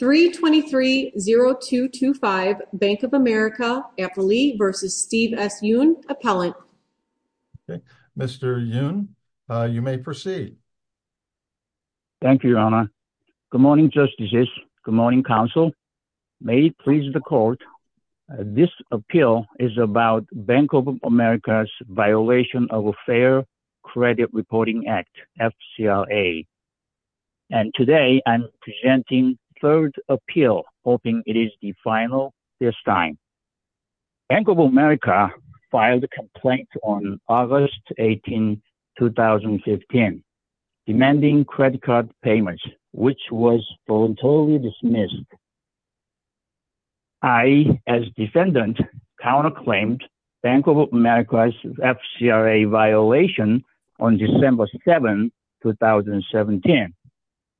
323-0225 Bank of America, N.A. v. Steve S. Yun, Appellant Mr. Yun, you may proceed. Thank you, Your Honor. Good morning, Justices. Good morning, Counsel. May it please the Court, this appeal is about Bank of America's violation of a Fair Credit Reporting Act, FCRA. And today, I'm presenting third appeal, hoping it is the final this time. Bank of America filed a complaint on August 18, 2015, demanding credit card payments, which was voluntarily dismissed. I, as defendant, counterclaimed Bank of America's FCRA violation on December 7, 2017,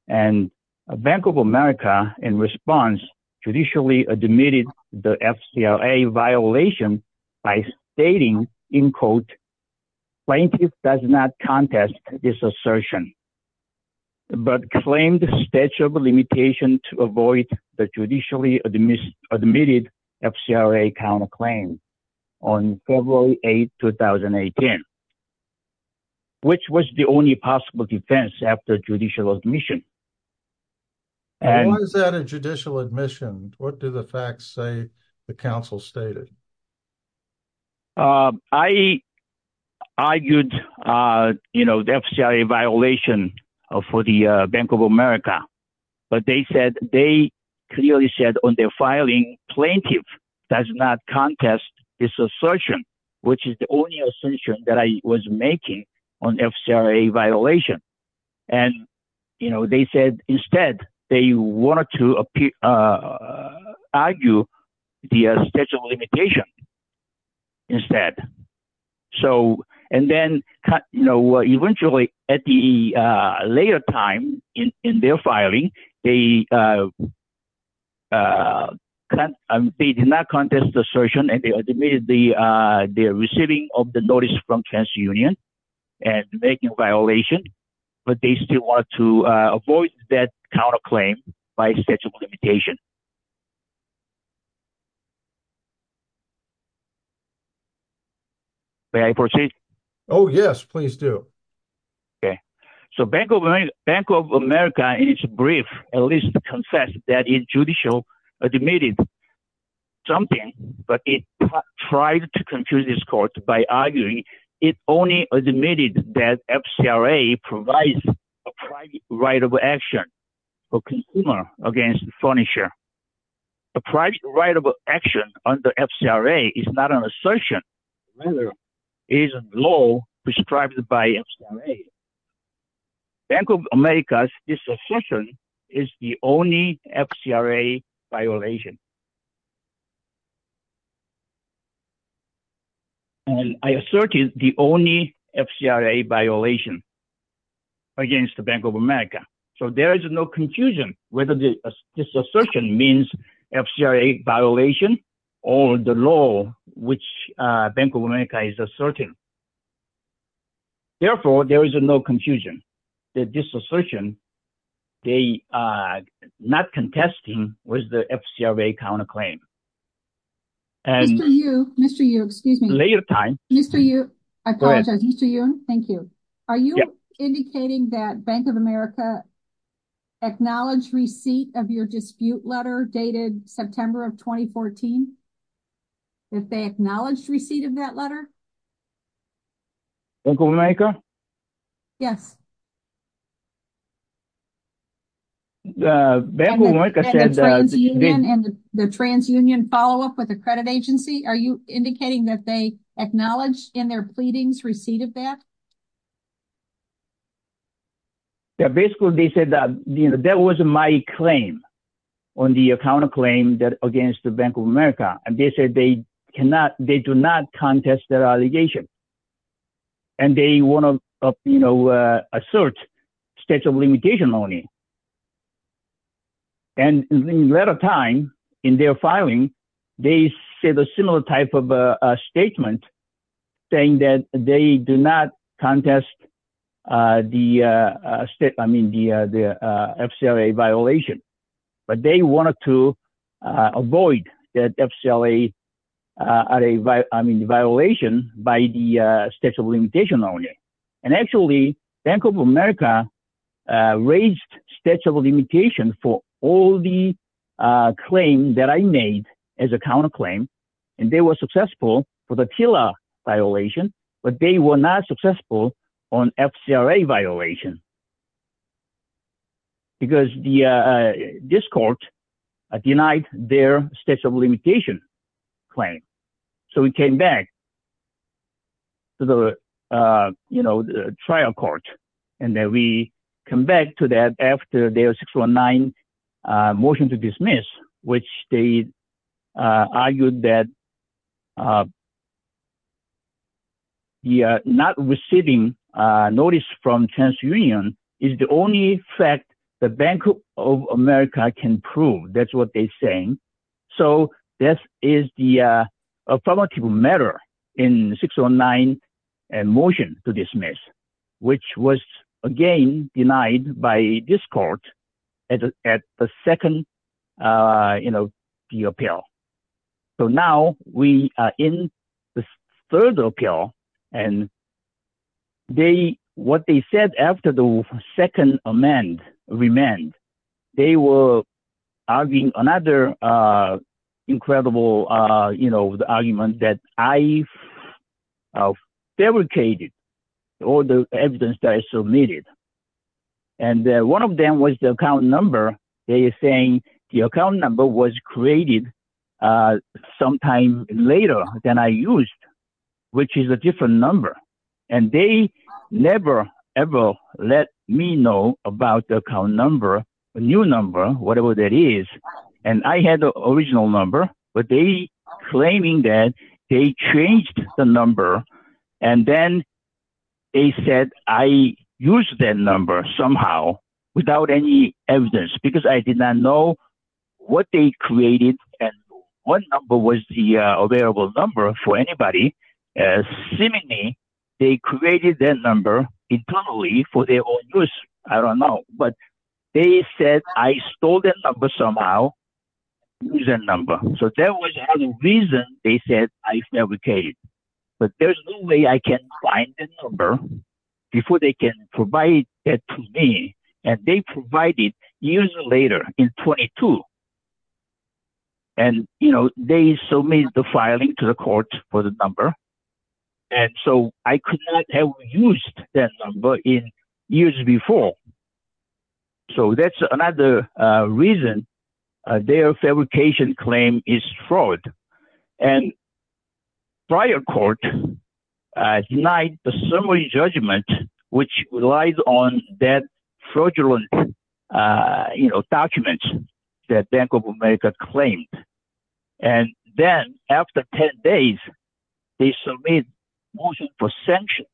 and Bank of America, in response, judicially admitted the FCRA violation by stating, in quote, Plaintiff does not contest this assertion, but claimed statute of limitation to avoid the judicially admitted FCRA counterclaim on February 8, 2018, which was the only possible defense after judicial admission. Why is that a judicial admission? What do the facts say the counsel stated? I argued, you know, the FCRA violation for the Bank of America, but they said, they clearly said on their filing, Plaintiff does not contest this assertion, which is the only assertion that I was making on FCRA violation. And, you know, they said, instead, they wanted to argue the statute of limitation instead. So and then, you know, eventually, at the later time in their filing, they did not contest the assertion, and they admitted the receiving of the notice from TransUnion, and making a violation, but they still want to avoid that counterclaim by statute of limitation. May I proceed? Oh, yes, please do. Okay. So Bank of America, in its brief, at least confessed that it judicially admitted something, but it tried to confuse this court by arguing it only admitted that FCRA provides a private right of action for consumer against furnisher. A private right of action under FCRA is not an assertion, rather, is a law prescribed by FCRA. Bank of America's disassertion is the only FCRA violation. And I asserted the only FCRA violation against the Bank of America, so there is no confusion whether this assertion means FCRA violation or the law, which Bank of America is asserting. Therefore, there is no confusion that this assertion, they are not contesting with the FCRA counterclaim. Mr. Yu, Mr. Yu, excuse me, Mr. Yu, I apologize, Mr. Yu, thank you. Are you indicating that Bank of America acknowledged receipt of your dispute letter dated September of 2014, that they acknowledged receipt of that letter? Bank of America? Yes. The Bank of America said that the TransUnion follow up with a credit agency, are you indicating that they acknowledged in their pleadings receipt of that? Yeah, basically, they said that, you know, that was my claim on the counterclaim that against the Bank of America, and they said they cannot, they do not contest their allegation. And they want to, you know, assert states of limitation only. And in later time, in their filing, they said a similar type of statement, saying that they do not contest the state, I mean, the FCRA violation, but they wanted to avoid that FCRA, I mean, violation by the states of limitation only. And actually, Bank of America raised states of limitation for all the claim that I made as a counterclaim. And they were successful for the TILA violation, but they were not successful on FCRA violation. Because the, this court denied their states of limitation claim. So we came back to the, you know, the trial court, and then we come back to that after their 619 motion to dismiss, which they argued that not receiving notice from TransUnion is the only fact the Bank of America can prove, that's what they're saying. So this is the affirmative matter in 619 motion to dismiss, which was again denied by this court at the second, you know, the appeal. So now we are in the third appeal, and they, what they said after the second amend, remand, they were arguing another incredible, you know, the argument that I fabricated all the evidence that I submitted. And one of them was the account number, they are saying the account number was created sometime later than I used, which is a different number. And they never ever let me know about the account number, the new number, whatever that is, and I had the original number, but they claiming that they changed the number, and then they said I used that number somehow without any evidence, because I did not know what they created and what number was the available number for anybody. Seemingly, they created that number internally for their own use. I don't know, but they said I stole that number somehow, used that number. So that was another reason they said I fabricated. But there's no way I can find that number before they can provide that to me. And they provided years later, in 22. And, you know, they submitted the filing to the court for the number. And so I could not have used that number in years before. So that's another reason their fabrication claim is fraud. And prior court denied the summary judgment, which relies on that fraudulent, you know, documents that Bank of America claimed. And then after 10 days, they submit motion for sanction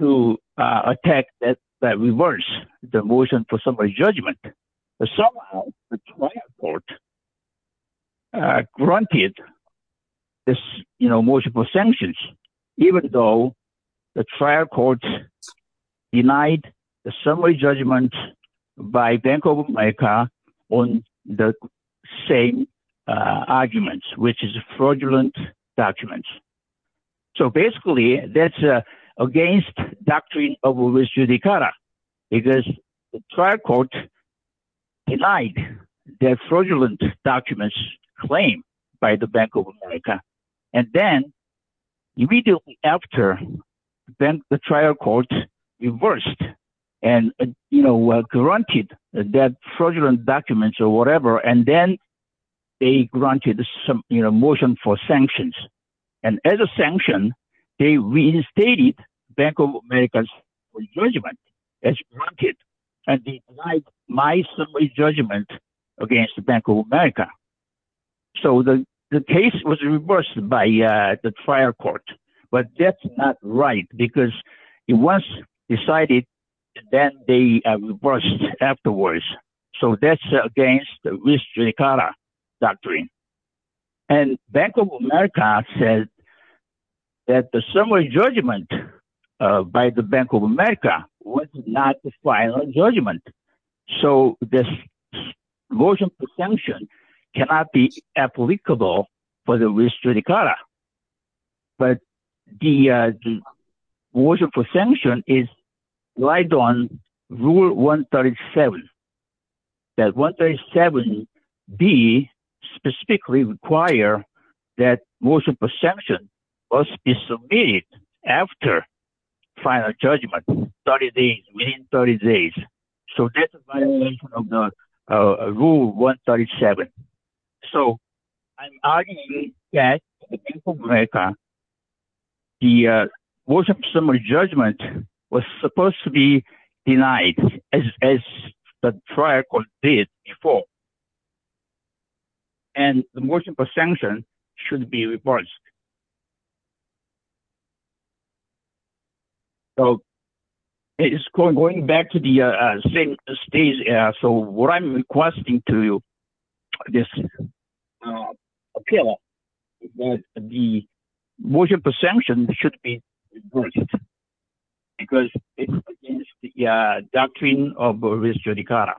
to attack that reverse the motion for summary judgment, but somehow the trial court granted this, you know, motion for sanctions, even though the trial court denied the summary judgment by Bank of America on the same arguments, which is fraudulent documents. So basically, that's against doctrine of U.S. Judicata, because the trial court denied their fraudulent documents claimed by the Bank of America. And then immediately after, then the trial court reversed and, you know, granted that fraudulent documents or whatever. And then they granted some, you know, motion for sanctions. And as a sanction, they reinstated Bank of America's judgment as granted, and denied my summary judgment against the Bank of America. So the case was reversed by the trial court. But that's not right, because it was decided, then they reversed afterwards. So that's against U.S. Judicata doctrine. And Bank of America said that the summary judgment by the Bank of America was not the final judgment. So this motion for sanction cannot be applicable for the U.S. Judicata. But the motion for sanction is right on Rule 137. That 137B specifically require that motion for sanction must be submitted after final judgment, 30 days, within 30 days. So that's violation of the Rule 137. So I'm arguing that the Bank of America, the motion for summary judgment was supposed to be denied, as the trial court did before. And the motion for sanction should be reversed. So it's going back to the same stage. So what I'm requesting to you, this appeal, is that the motion for sanction should be reversed, because it's against the doctrine of U.S. Judicata.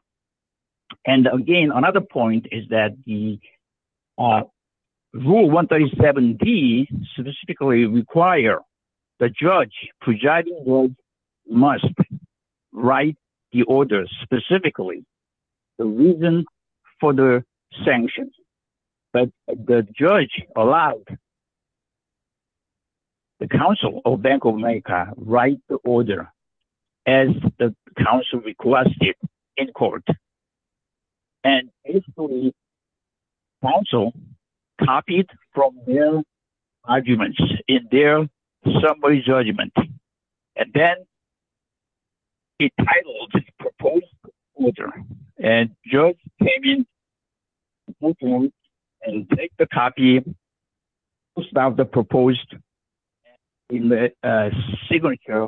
And again, another point is that the Rule 137B specifically require the judge, progido judge, must write the order specifically, the reason for the sanctions. But the judge allowed the counsel of Bank of America to write the order, as the counsel requested in court. And basically, counsel copied from their arguments in their summary judgment. And then it titled, Proposed Order. And judge came in and took the copy of the proposed signature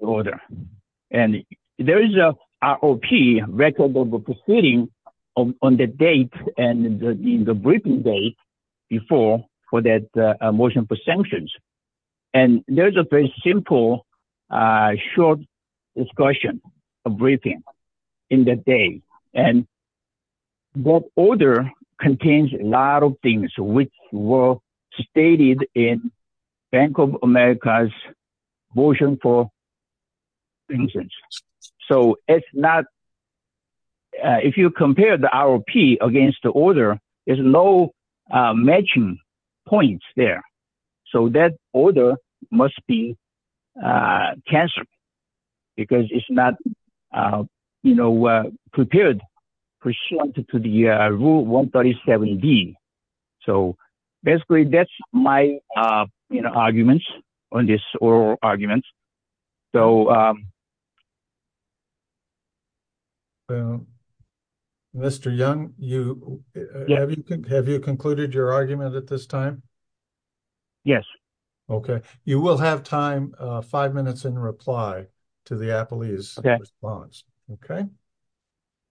order. And there is a ROP, Record of Proceedings, on the date and in the briefing date before for that motion for sanctions. And there's a very simple, short discussion, a briefing in the day. And the order contains a lot of things which were stated in Bank of America's motion for sanctions. So it's not, if you compare the ROP against the order, there's no matching points there. So that order must be cancelled, because it's not prepared pursuant to the Rule 137B. So basically, that's my arguments on this oral argument. Mr. Young, have you concluded your argument at this time? Yes. Okay. You will have time, five minutes in reply to the appellee's response. Okay.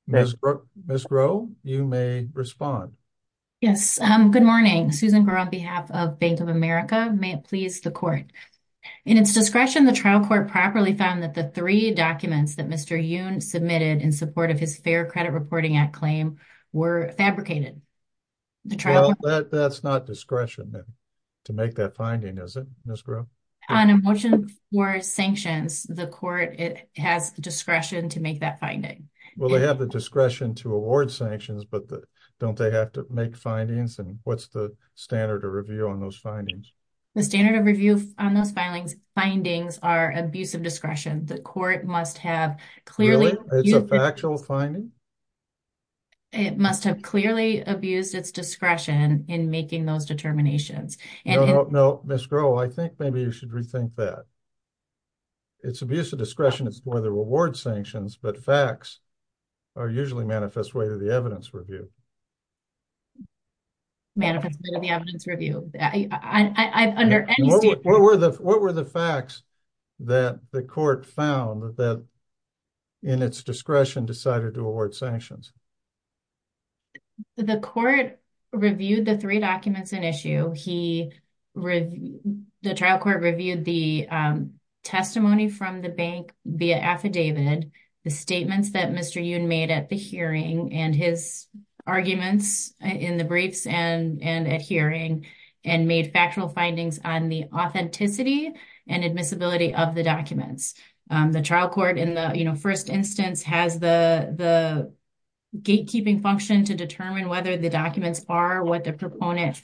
Ms. Groh, you may respond. Yes. Good morning. Susan Groh, on behalf of Bank of America. May it please the court. In its discretion, the trial court properly found that the three documents that Mr. Young submitted in support of his Fair Credit Reporting Act claim were fabricated. Well, that's not discretion to make that finding, is it, Ms. Groh? On a motion for sanctions, the court has the discretion to make that finding. Well, they have the discretion to award sanctions, but don't they have to make findings? And what's the standard of review on those findings? The standard of review on those findings are abuse of discretion. The court must have clearly— Really? It's a factual finding? It must have clearly abused its discretion in making those determinations. No, no, no, Ms. Groh, I think maybe you should rethink that. It's abuse of discretion, it's more the reward sanctions, but facts are usually manifest way to the evidence review. Manifest way to the evidence review. I, I, I, I, under any— What were the, what were the facts that the court found that in its discretion decided to award sanctions? The court reviewed the three documents in issue. He, the trial court reviewed the testimony from the bank via affidavit, the statements that Mr. Yoon made at the hearing and his arguments in the briefs and, and at hearing, and made factual findings on the authenticity and admissibility of the documents. The trial court in the, you know, first instance has the, the gatekeeping function to determine whether the documents are what the proponent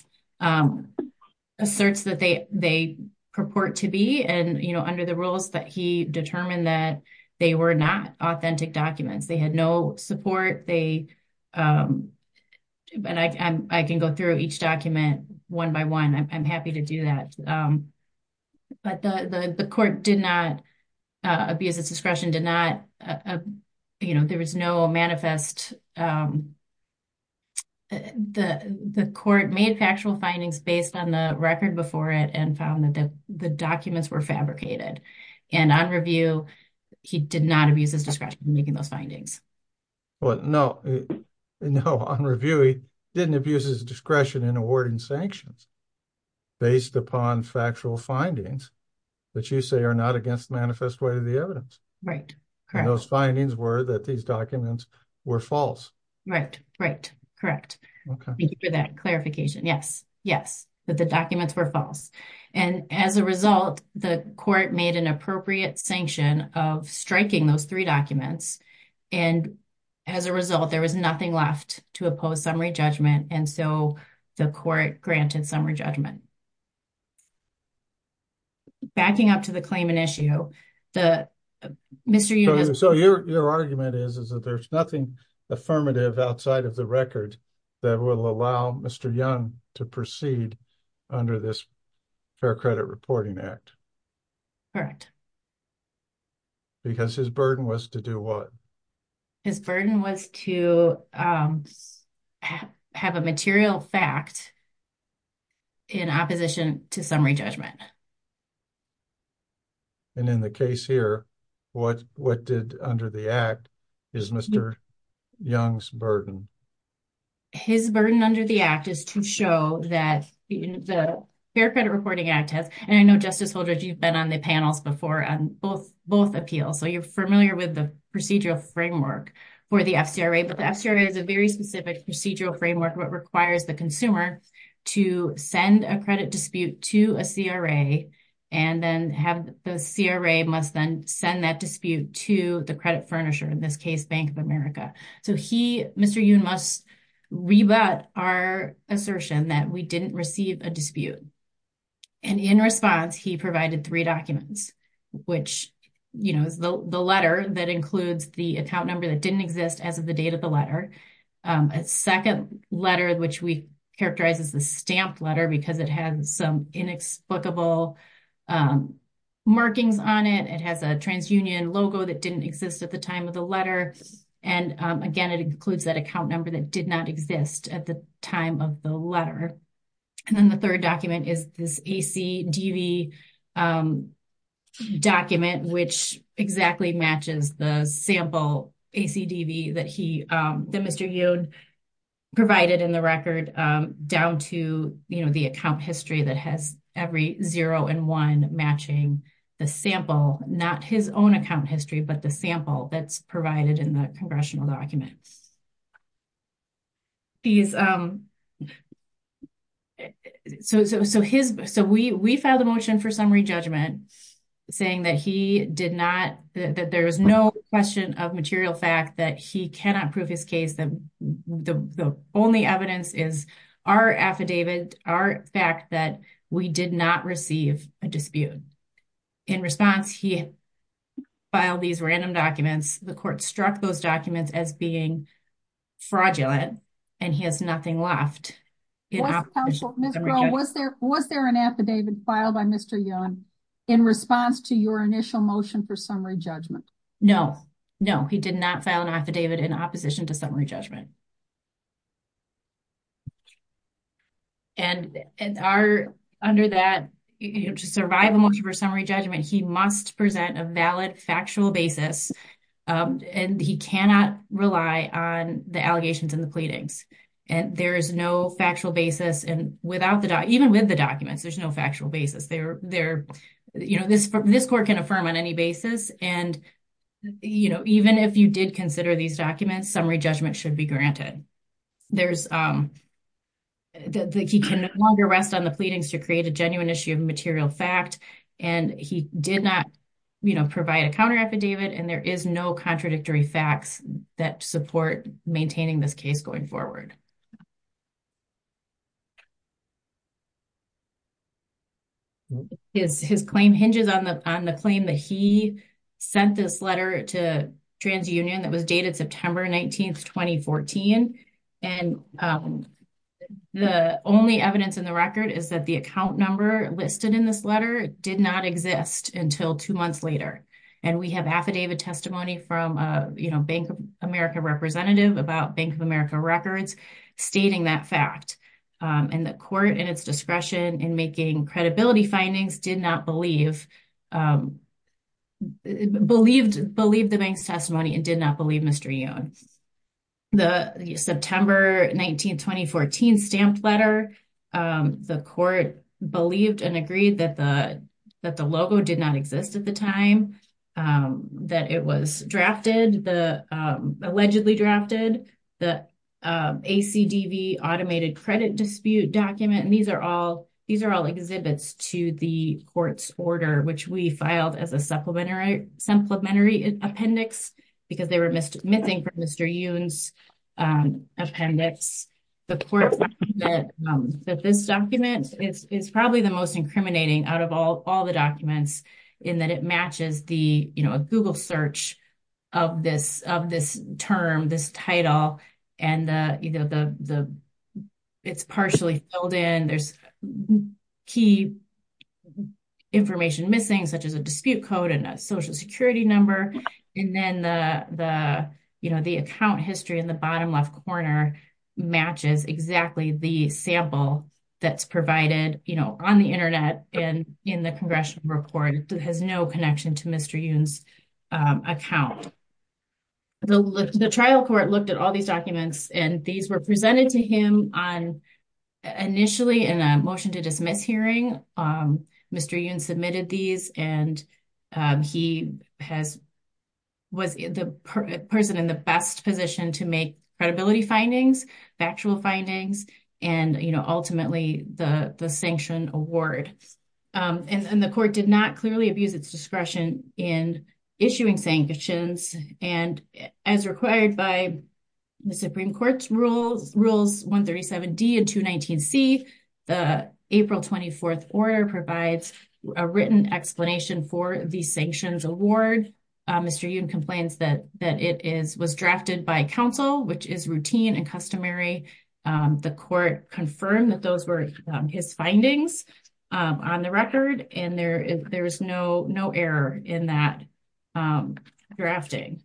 asserts that they, they purport to be. And, you know, under the rules that he determined that they were not authentic documents. They had no support. They, and I, I can go through each document one by one. I'm happy to do that. But the, the, the court did not abuse its discretion, did not, you know, there was no manifest. The, the court made factual findings based on the record before it and found that the documents were fabricated. And on review, he did not abuse his discretion in making those findings. Well, no, no, on review, he didn't abuse his discretion in awarding sanctions based upon factual findings that you say are not against the manifest way of the evidence. Right. And those findings were that these documents were false. Right. Right. Correct. Thank you for that clarification. Yes. Yes. But the documents were false. And as a result, the court made an appropriate sanction of striking those three documents. And as a result, there was nothing left to oppose summary judgment. And so the court granted summary judgment. Backing up to the claimant issue, the Mr. So your, your argument is, is that there's nothing affirmative outside of the record that will allow Mr. Young to proceed under this fair credit reporting act. Correct. Because his burden was to do what? His burden was to have a material fact in opposition to summary judgment. And in the case here, what, what did under the act is Mr. Young's burden? His burden under the act is to show that the fair credit reporting act has, and I know Justice Holdred, you've been on the panels before on both, both appeals. So you're familiar with the procedural framework for the FCRA, but the FCRA is a very specific procedural framework. What requires the consumer to send a credit dispute to a CRA and then have the CRA must then send that dispute to the credit furnisher, in this case, Bank of America. So he, Mr. Young must rebut our assertion that we didn't receive a dispute. And in response, he provided three documents, which, you know, is the letter that includes the account number that didn't exist as of the date of the letter, a second letter, which we characterize as the stamped letter, because it has some inexplicable markings on it. It has a TransUnion logo that didn't exist at the time of the letter. And again, it includes that account number that did not exist at the time of the letter. And then the third document is this ACDV document, which exactly matches the sample ACDV that he, that Mr. Young provided in the record down to, you know, the account history that has every zero and one matching the sample, not his own account history, but the sample that's provided in the congressional document. These, so his, so we, we filed a motion for summary judgment saying that he did not, that there was no question of material fact that he cannot prove his case. That the only evidence is our affidavit, our fact that we did not receive a dispute. In response, he filed these random documents. The court struck those documents as being fraudulent and he has nothing left. Was there an affidavit filed by Mr. Young in response to your initial motion for summary judgment? No, no, he did not file an affidavit in opposition to summary judgment. And under that, to survive a motion for summary judgment, he must present a valid factual basis and he cannot rely on the allegations and the pleadings. And there is no factual basis and without the, even with the documents, there's no factual basis. There, there, you know, this, this court can affirm on any basis. And, you know, even if you did consider these documents, summary judgment should be granted. There's, he can no longer rest on the pleadings to create a genuine issue of material fact. And he did not, you know, provide a counter affidavit. And there is no contradictory facts that support maintaining this case going forward. His, his claim hinges on the, on the claim that he sent this letter to TransUnion that was dated September 19th, 2014. And the only evidence in the record is that the account number listed in this letter did not exist until two months later. And we have affidavit testimony from, you know, Bank of America representative about Bank of America records stating that fact. And the court and its discretion in making credibility findings did not believe, believed, believed the bank's testimony and did not believe Mr. Yoon. The September 19th, 2014 stamped letter, the court believed and agreed that the, that the logo did not exist at the time that it was drafted, the allegedly drafted the ACDV automated credit dispute document. And these are all, these are all exhibits to the court's order, which we filed as a supplementary appendix because they were missing from Mr. Yoon's appendix. The court found that, that this document is probably the most incriminating out of all, all the documents in that it matches the, you know, a Google search of this, of this term, this title and the, you know, the, the, it's partially filled in. There's key information missing such as a dispute code and a social security number. And then the, the, you know, the account history in the bottom left corner matches exactly the sample that's provided, you know, on the internet and in the congressional report that has no connection to Mr. Yoon's account. The trial court looked at all these documents and these were presented to him on initially in a motion to dismiss hearing. Mr. Yoon submitted these and he has, was the person in the best position to make credibility findings, factual findings, and, you know, ultimately the, the sanction award. And the court did not clearly abuse its discretion in issuing sanctions. And as required by the Supreme Court's rules, rules 137D and 219C, the April 24th order provides a written explanation for the sanctions award. Mr. Yoon complains that, that it is, was drafted by counsel, which is routine and customary. The court confirmed that those were his findings on the record. And there is, there is no, no error in that drafting.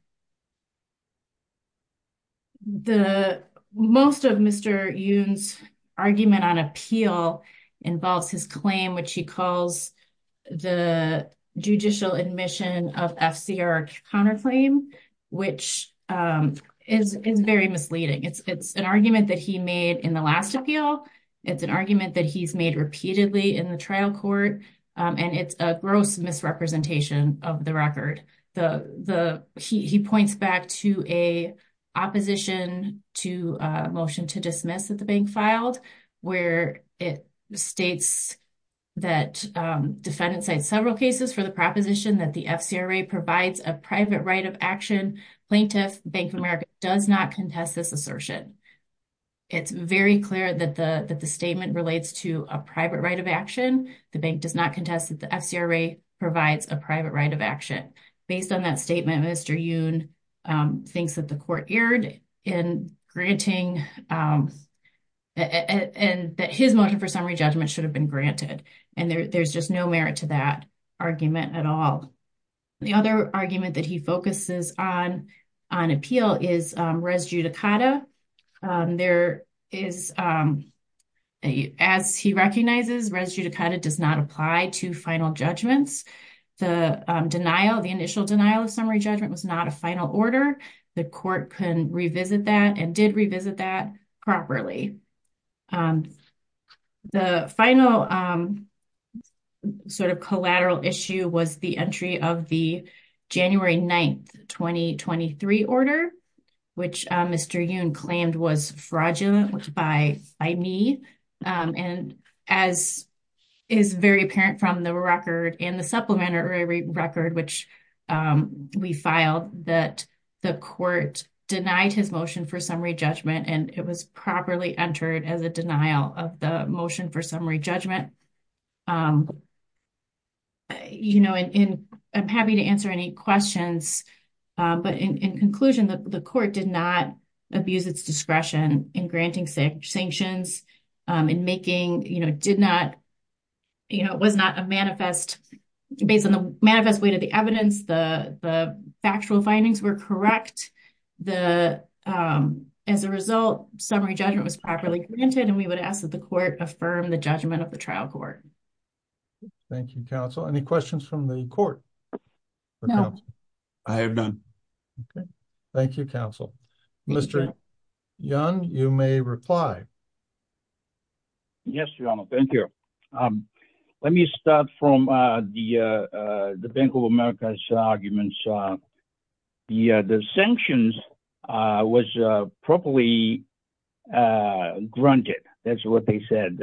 The, most of Mr. Yoon's argument on appeal involves his claim, which he calls the judicial admission of FCR counterclaim, which is, is very misleading. It's, it's an argument that he made in the last appeal. It's an argument that he's made repeatedly in the trial court. And it's a gross misrepresentation of the record. The, the, he, he points back to a opposition to a motion to dismiss that the bank filed, where it states that defendants cite several cases for the proposition that the FCRA provides a private right of action. Plaintiff Bank of America does not contest this assertion. It's very clear that the, that the statement relates to a private right of action. The bank does not contest that the FCRA provides a private right of action. Based on that statement, Mr. Yoon thinks that the court erred in granting, and that his motion for summary judgment should have been granted. And there, there's just no merit to that argument at all. The other argument that he focuses on, on appeal is res judicata. There is, as he recognizes, res judicata does not apply to final judgments. The denial, the initial denial of summary judgment was not a final order. The court can revisit that and did revisit that properly. The final sort of collateral issue was the entry of the January 9th, 2023 order, which Mr. Yoon claimed was fraudulent by, by me. And as is very apparent from the record and the supplementary record, which we filed, that the court denied his motion for summary judgment, and it was properly entered as a denial of the motion for summary judgment. You know, and I'm happy to answer any questions, but in conclusion, the court did not abuse its discretion in granting sanctions, in making, you know, did not, you know, it was not a manifest, based on the manifest way to the evidence, the, the factual findings were correct. The, as a result, summary judgment was properly granted, and we would ask that the court affirm the judgment of the trial court. Thank you, counsel. Any questions from the court? I have none. Okay. Thank you, counsel. Mr. Yoon, you may reply. Yes, your honor. Thank you. Let me start from the, the Bank of America's arguments. The, the sanctions was properly granted. That's what they said,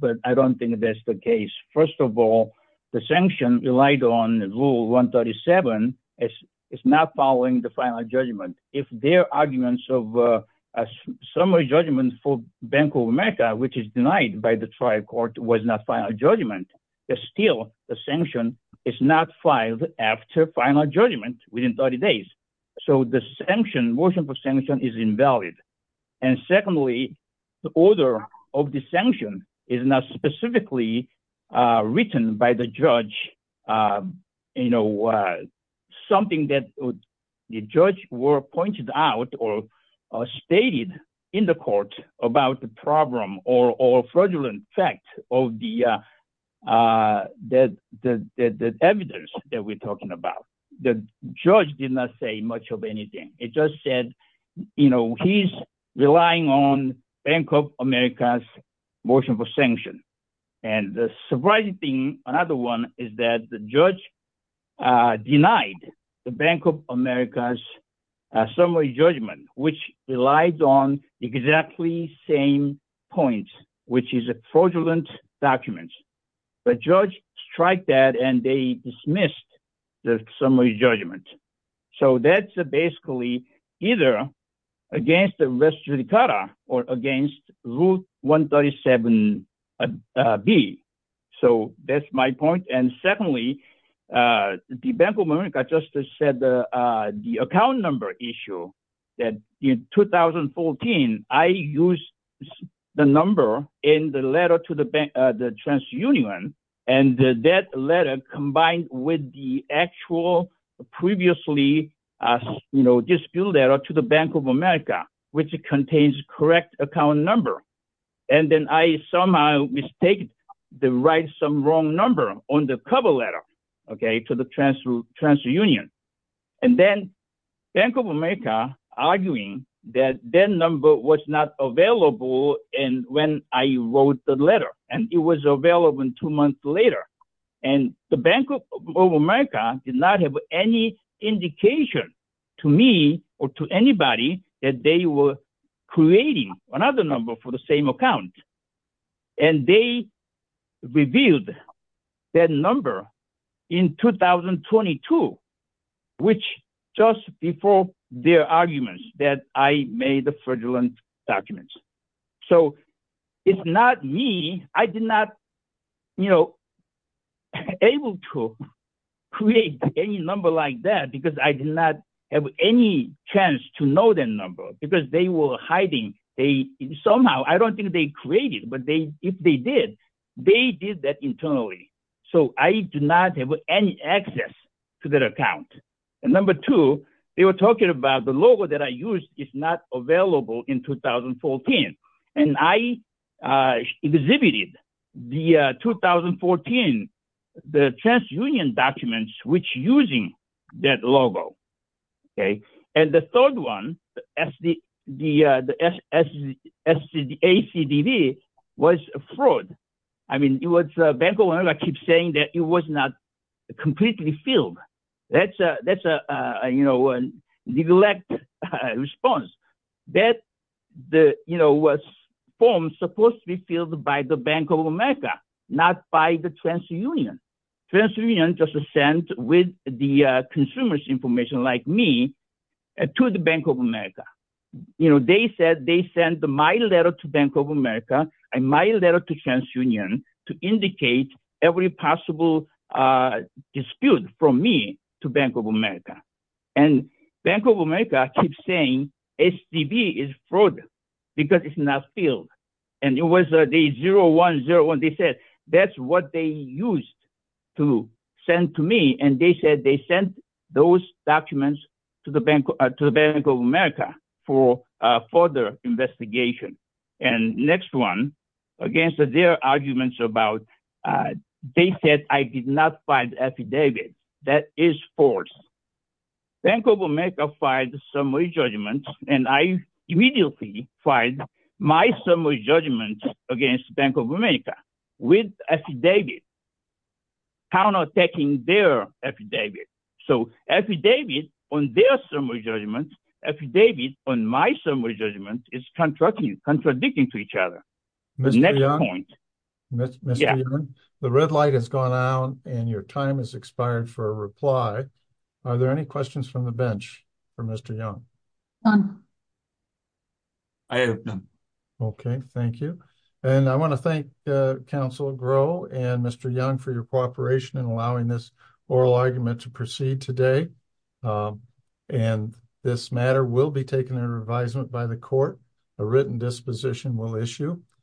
but I don't think that's the case. First of all, the sanction relied on rule 137, it's not following the final judgment. If their arguments of a summary judgment for Bank of America, which is denied by the trial court was not final judgment, but still the sanction is not filed after final judgment within 30 days. So the sanction, motion for sanction is invalid. And secondly, the order of the sanction is not specifically written by the judge. You know, something that the judge were pointed out or stated in the court about the problem or, or fraudulent fact of the, that, the, the evidence that we're talking about. The judge did not say much of anything. It just said, you know, he's relying on Bank of America's sanction. And the surprising thing, another one is that the judge denied the Bank of America's summary judgment, which relies on exactly same points, which is a fraudulent documents, but judge strike that and they dismissed the summary judgment. So that's a basically either against the rest of the cata or against route 137B. So that's my point. And secondly, the Bank of America just said the, the account number issue that in 2014, I used the number in the letter to the bank, the transunion, and that letter combined with the actual previously, you know, dispute letter to the Bank of America, which contains correct account number. And then I somehow mistake the right, some wrong number on the cover letter, okay, to the transfer union. And then Bank of America arguing that that number was not available. And when I wrote the letter and it was available in two months later, and the Bank of America did not have any indication to me or to anybody that they were creating another number for the same account. And they revealed that number in 2022, which just before their arguments that I made the fraudulent documents. So it's not me, I did not, you know, able to create any number like that, because I did not have any chance to know that number because they were hiding. They somehow I don't think they created, but they if they did, they did that internally. So I do not have any access to that account. And number two, they were talking about the logo that I used is not available in 2014. And I exhibited the 2014, the transunion documents which using that logo. Okay. And the third one, the ACDB was a fraud. I mean, it was Bank of America keep saying that it was not completely filled. That's a, that's a, you know, neglect response that the, you know, was formed supposed to be filled by the Bank of America, not by the transunion. Transunion just sent with the consumer's information like me to the Bank of America. You know, they said they sent my letter to Bank of America and my letter to transunion to indicate every possible dispute from me to Bank of America and Bank of America keep saying ACDB is fraud because it's not filled. And it was a day zero one zero one. They said, that's what they used to send to me. And they said, they sent those documents to the bank, to the Bank of America for further investigation. And next one against their arguments about, they said, I did not find affidavit that is false. Bank of America filed a summary judgment and I immediately filed my summary judgment against Bank of America with affidavit, counterattacking their affidavit. So affidavit on their summary judgment, affidavit on my summary judgment is contradicting to each other. Mr. Young, the red light has gone out and your time has expired for a reply. Are there any questions from the bench for Mr. Young? I have none. Okay. Thank you. And I want to thank council Groh and Mr. Young for your argument to proceed today. And this matter will be taken under advisement by the court. A written disposition will issue.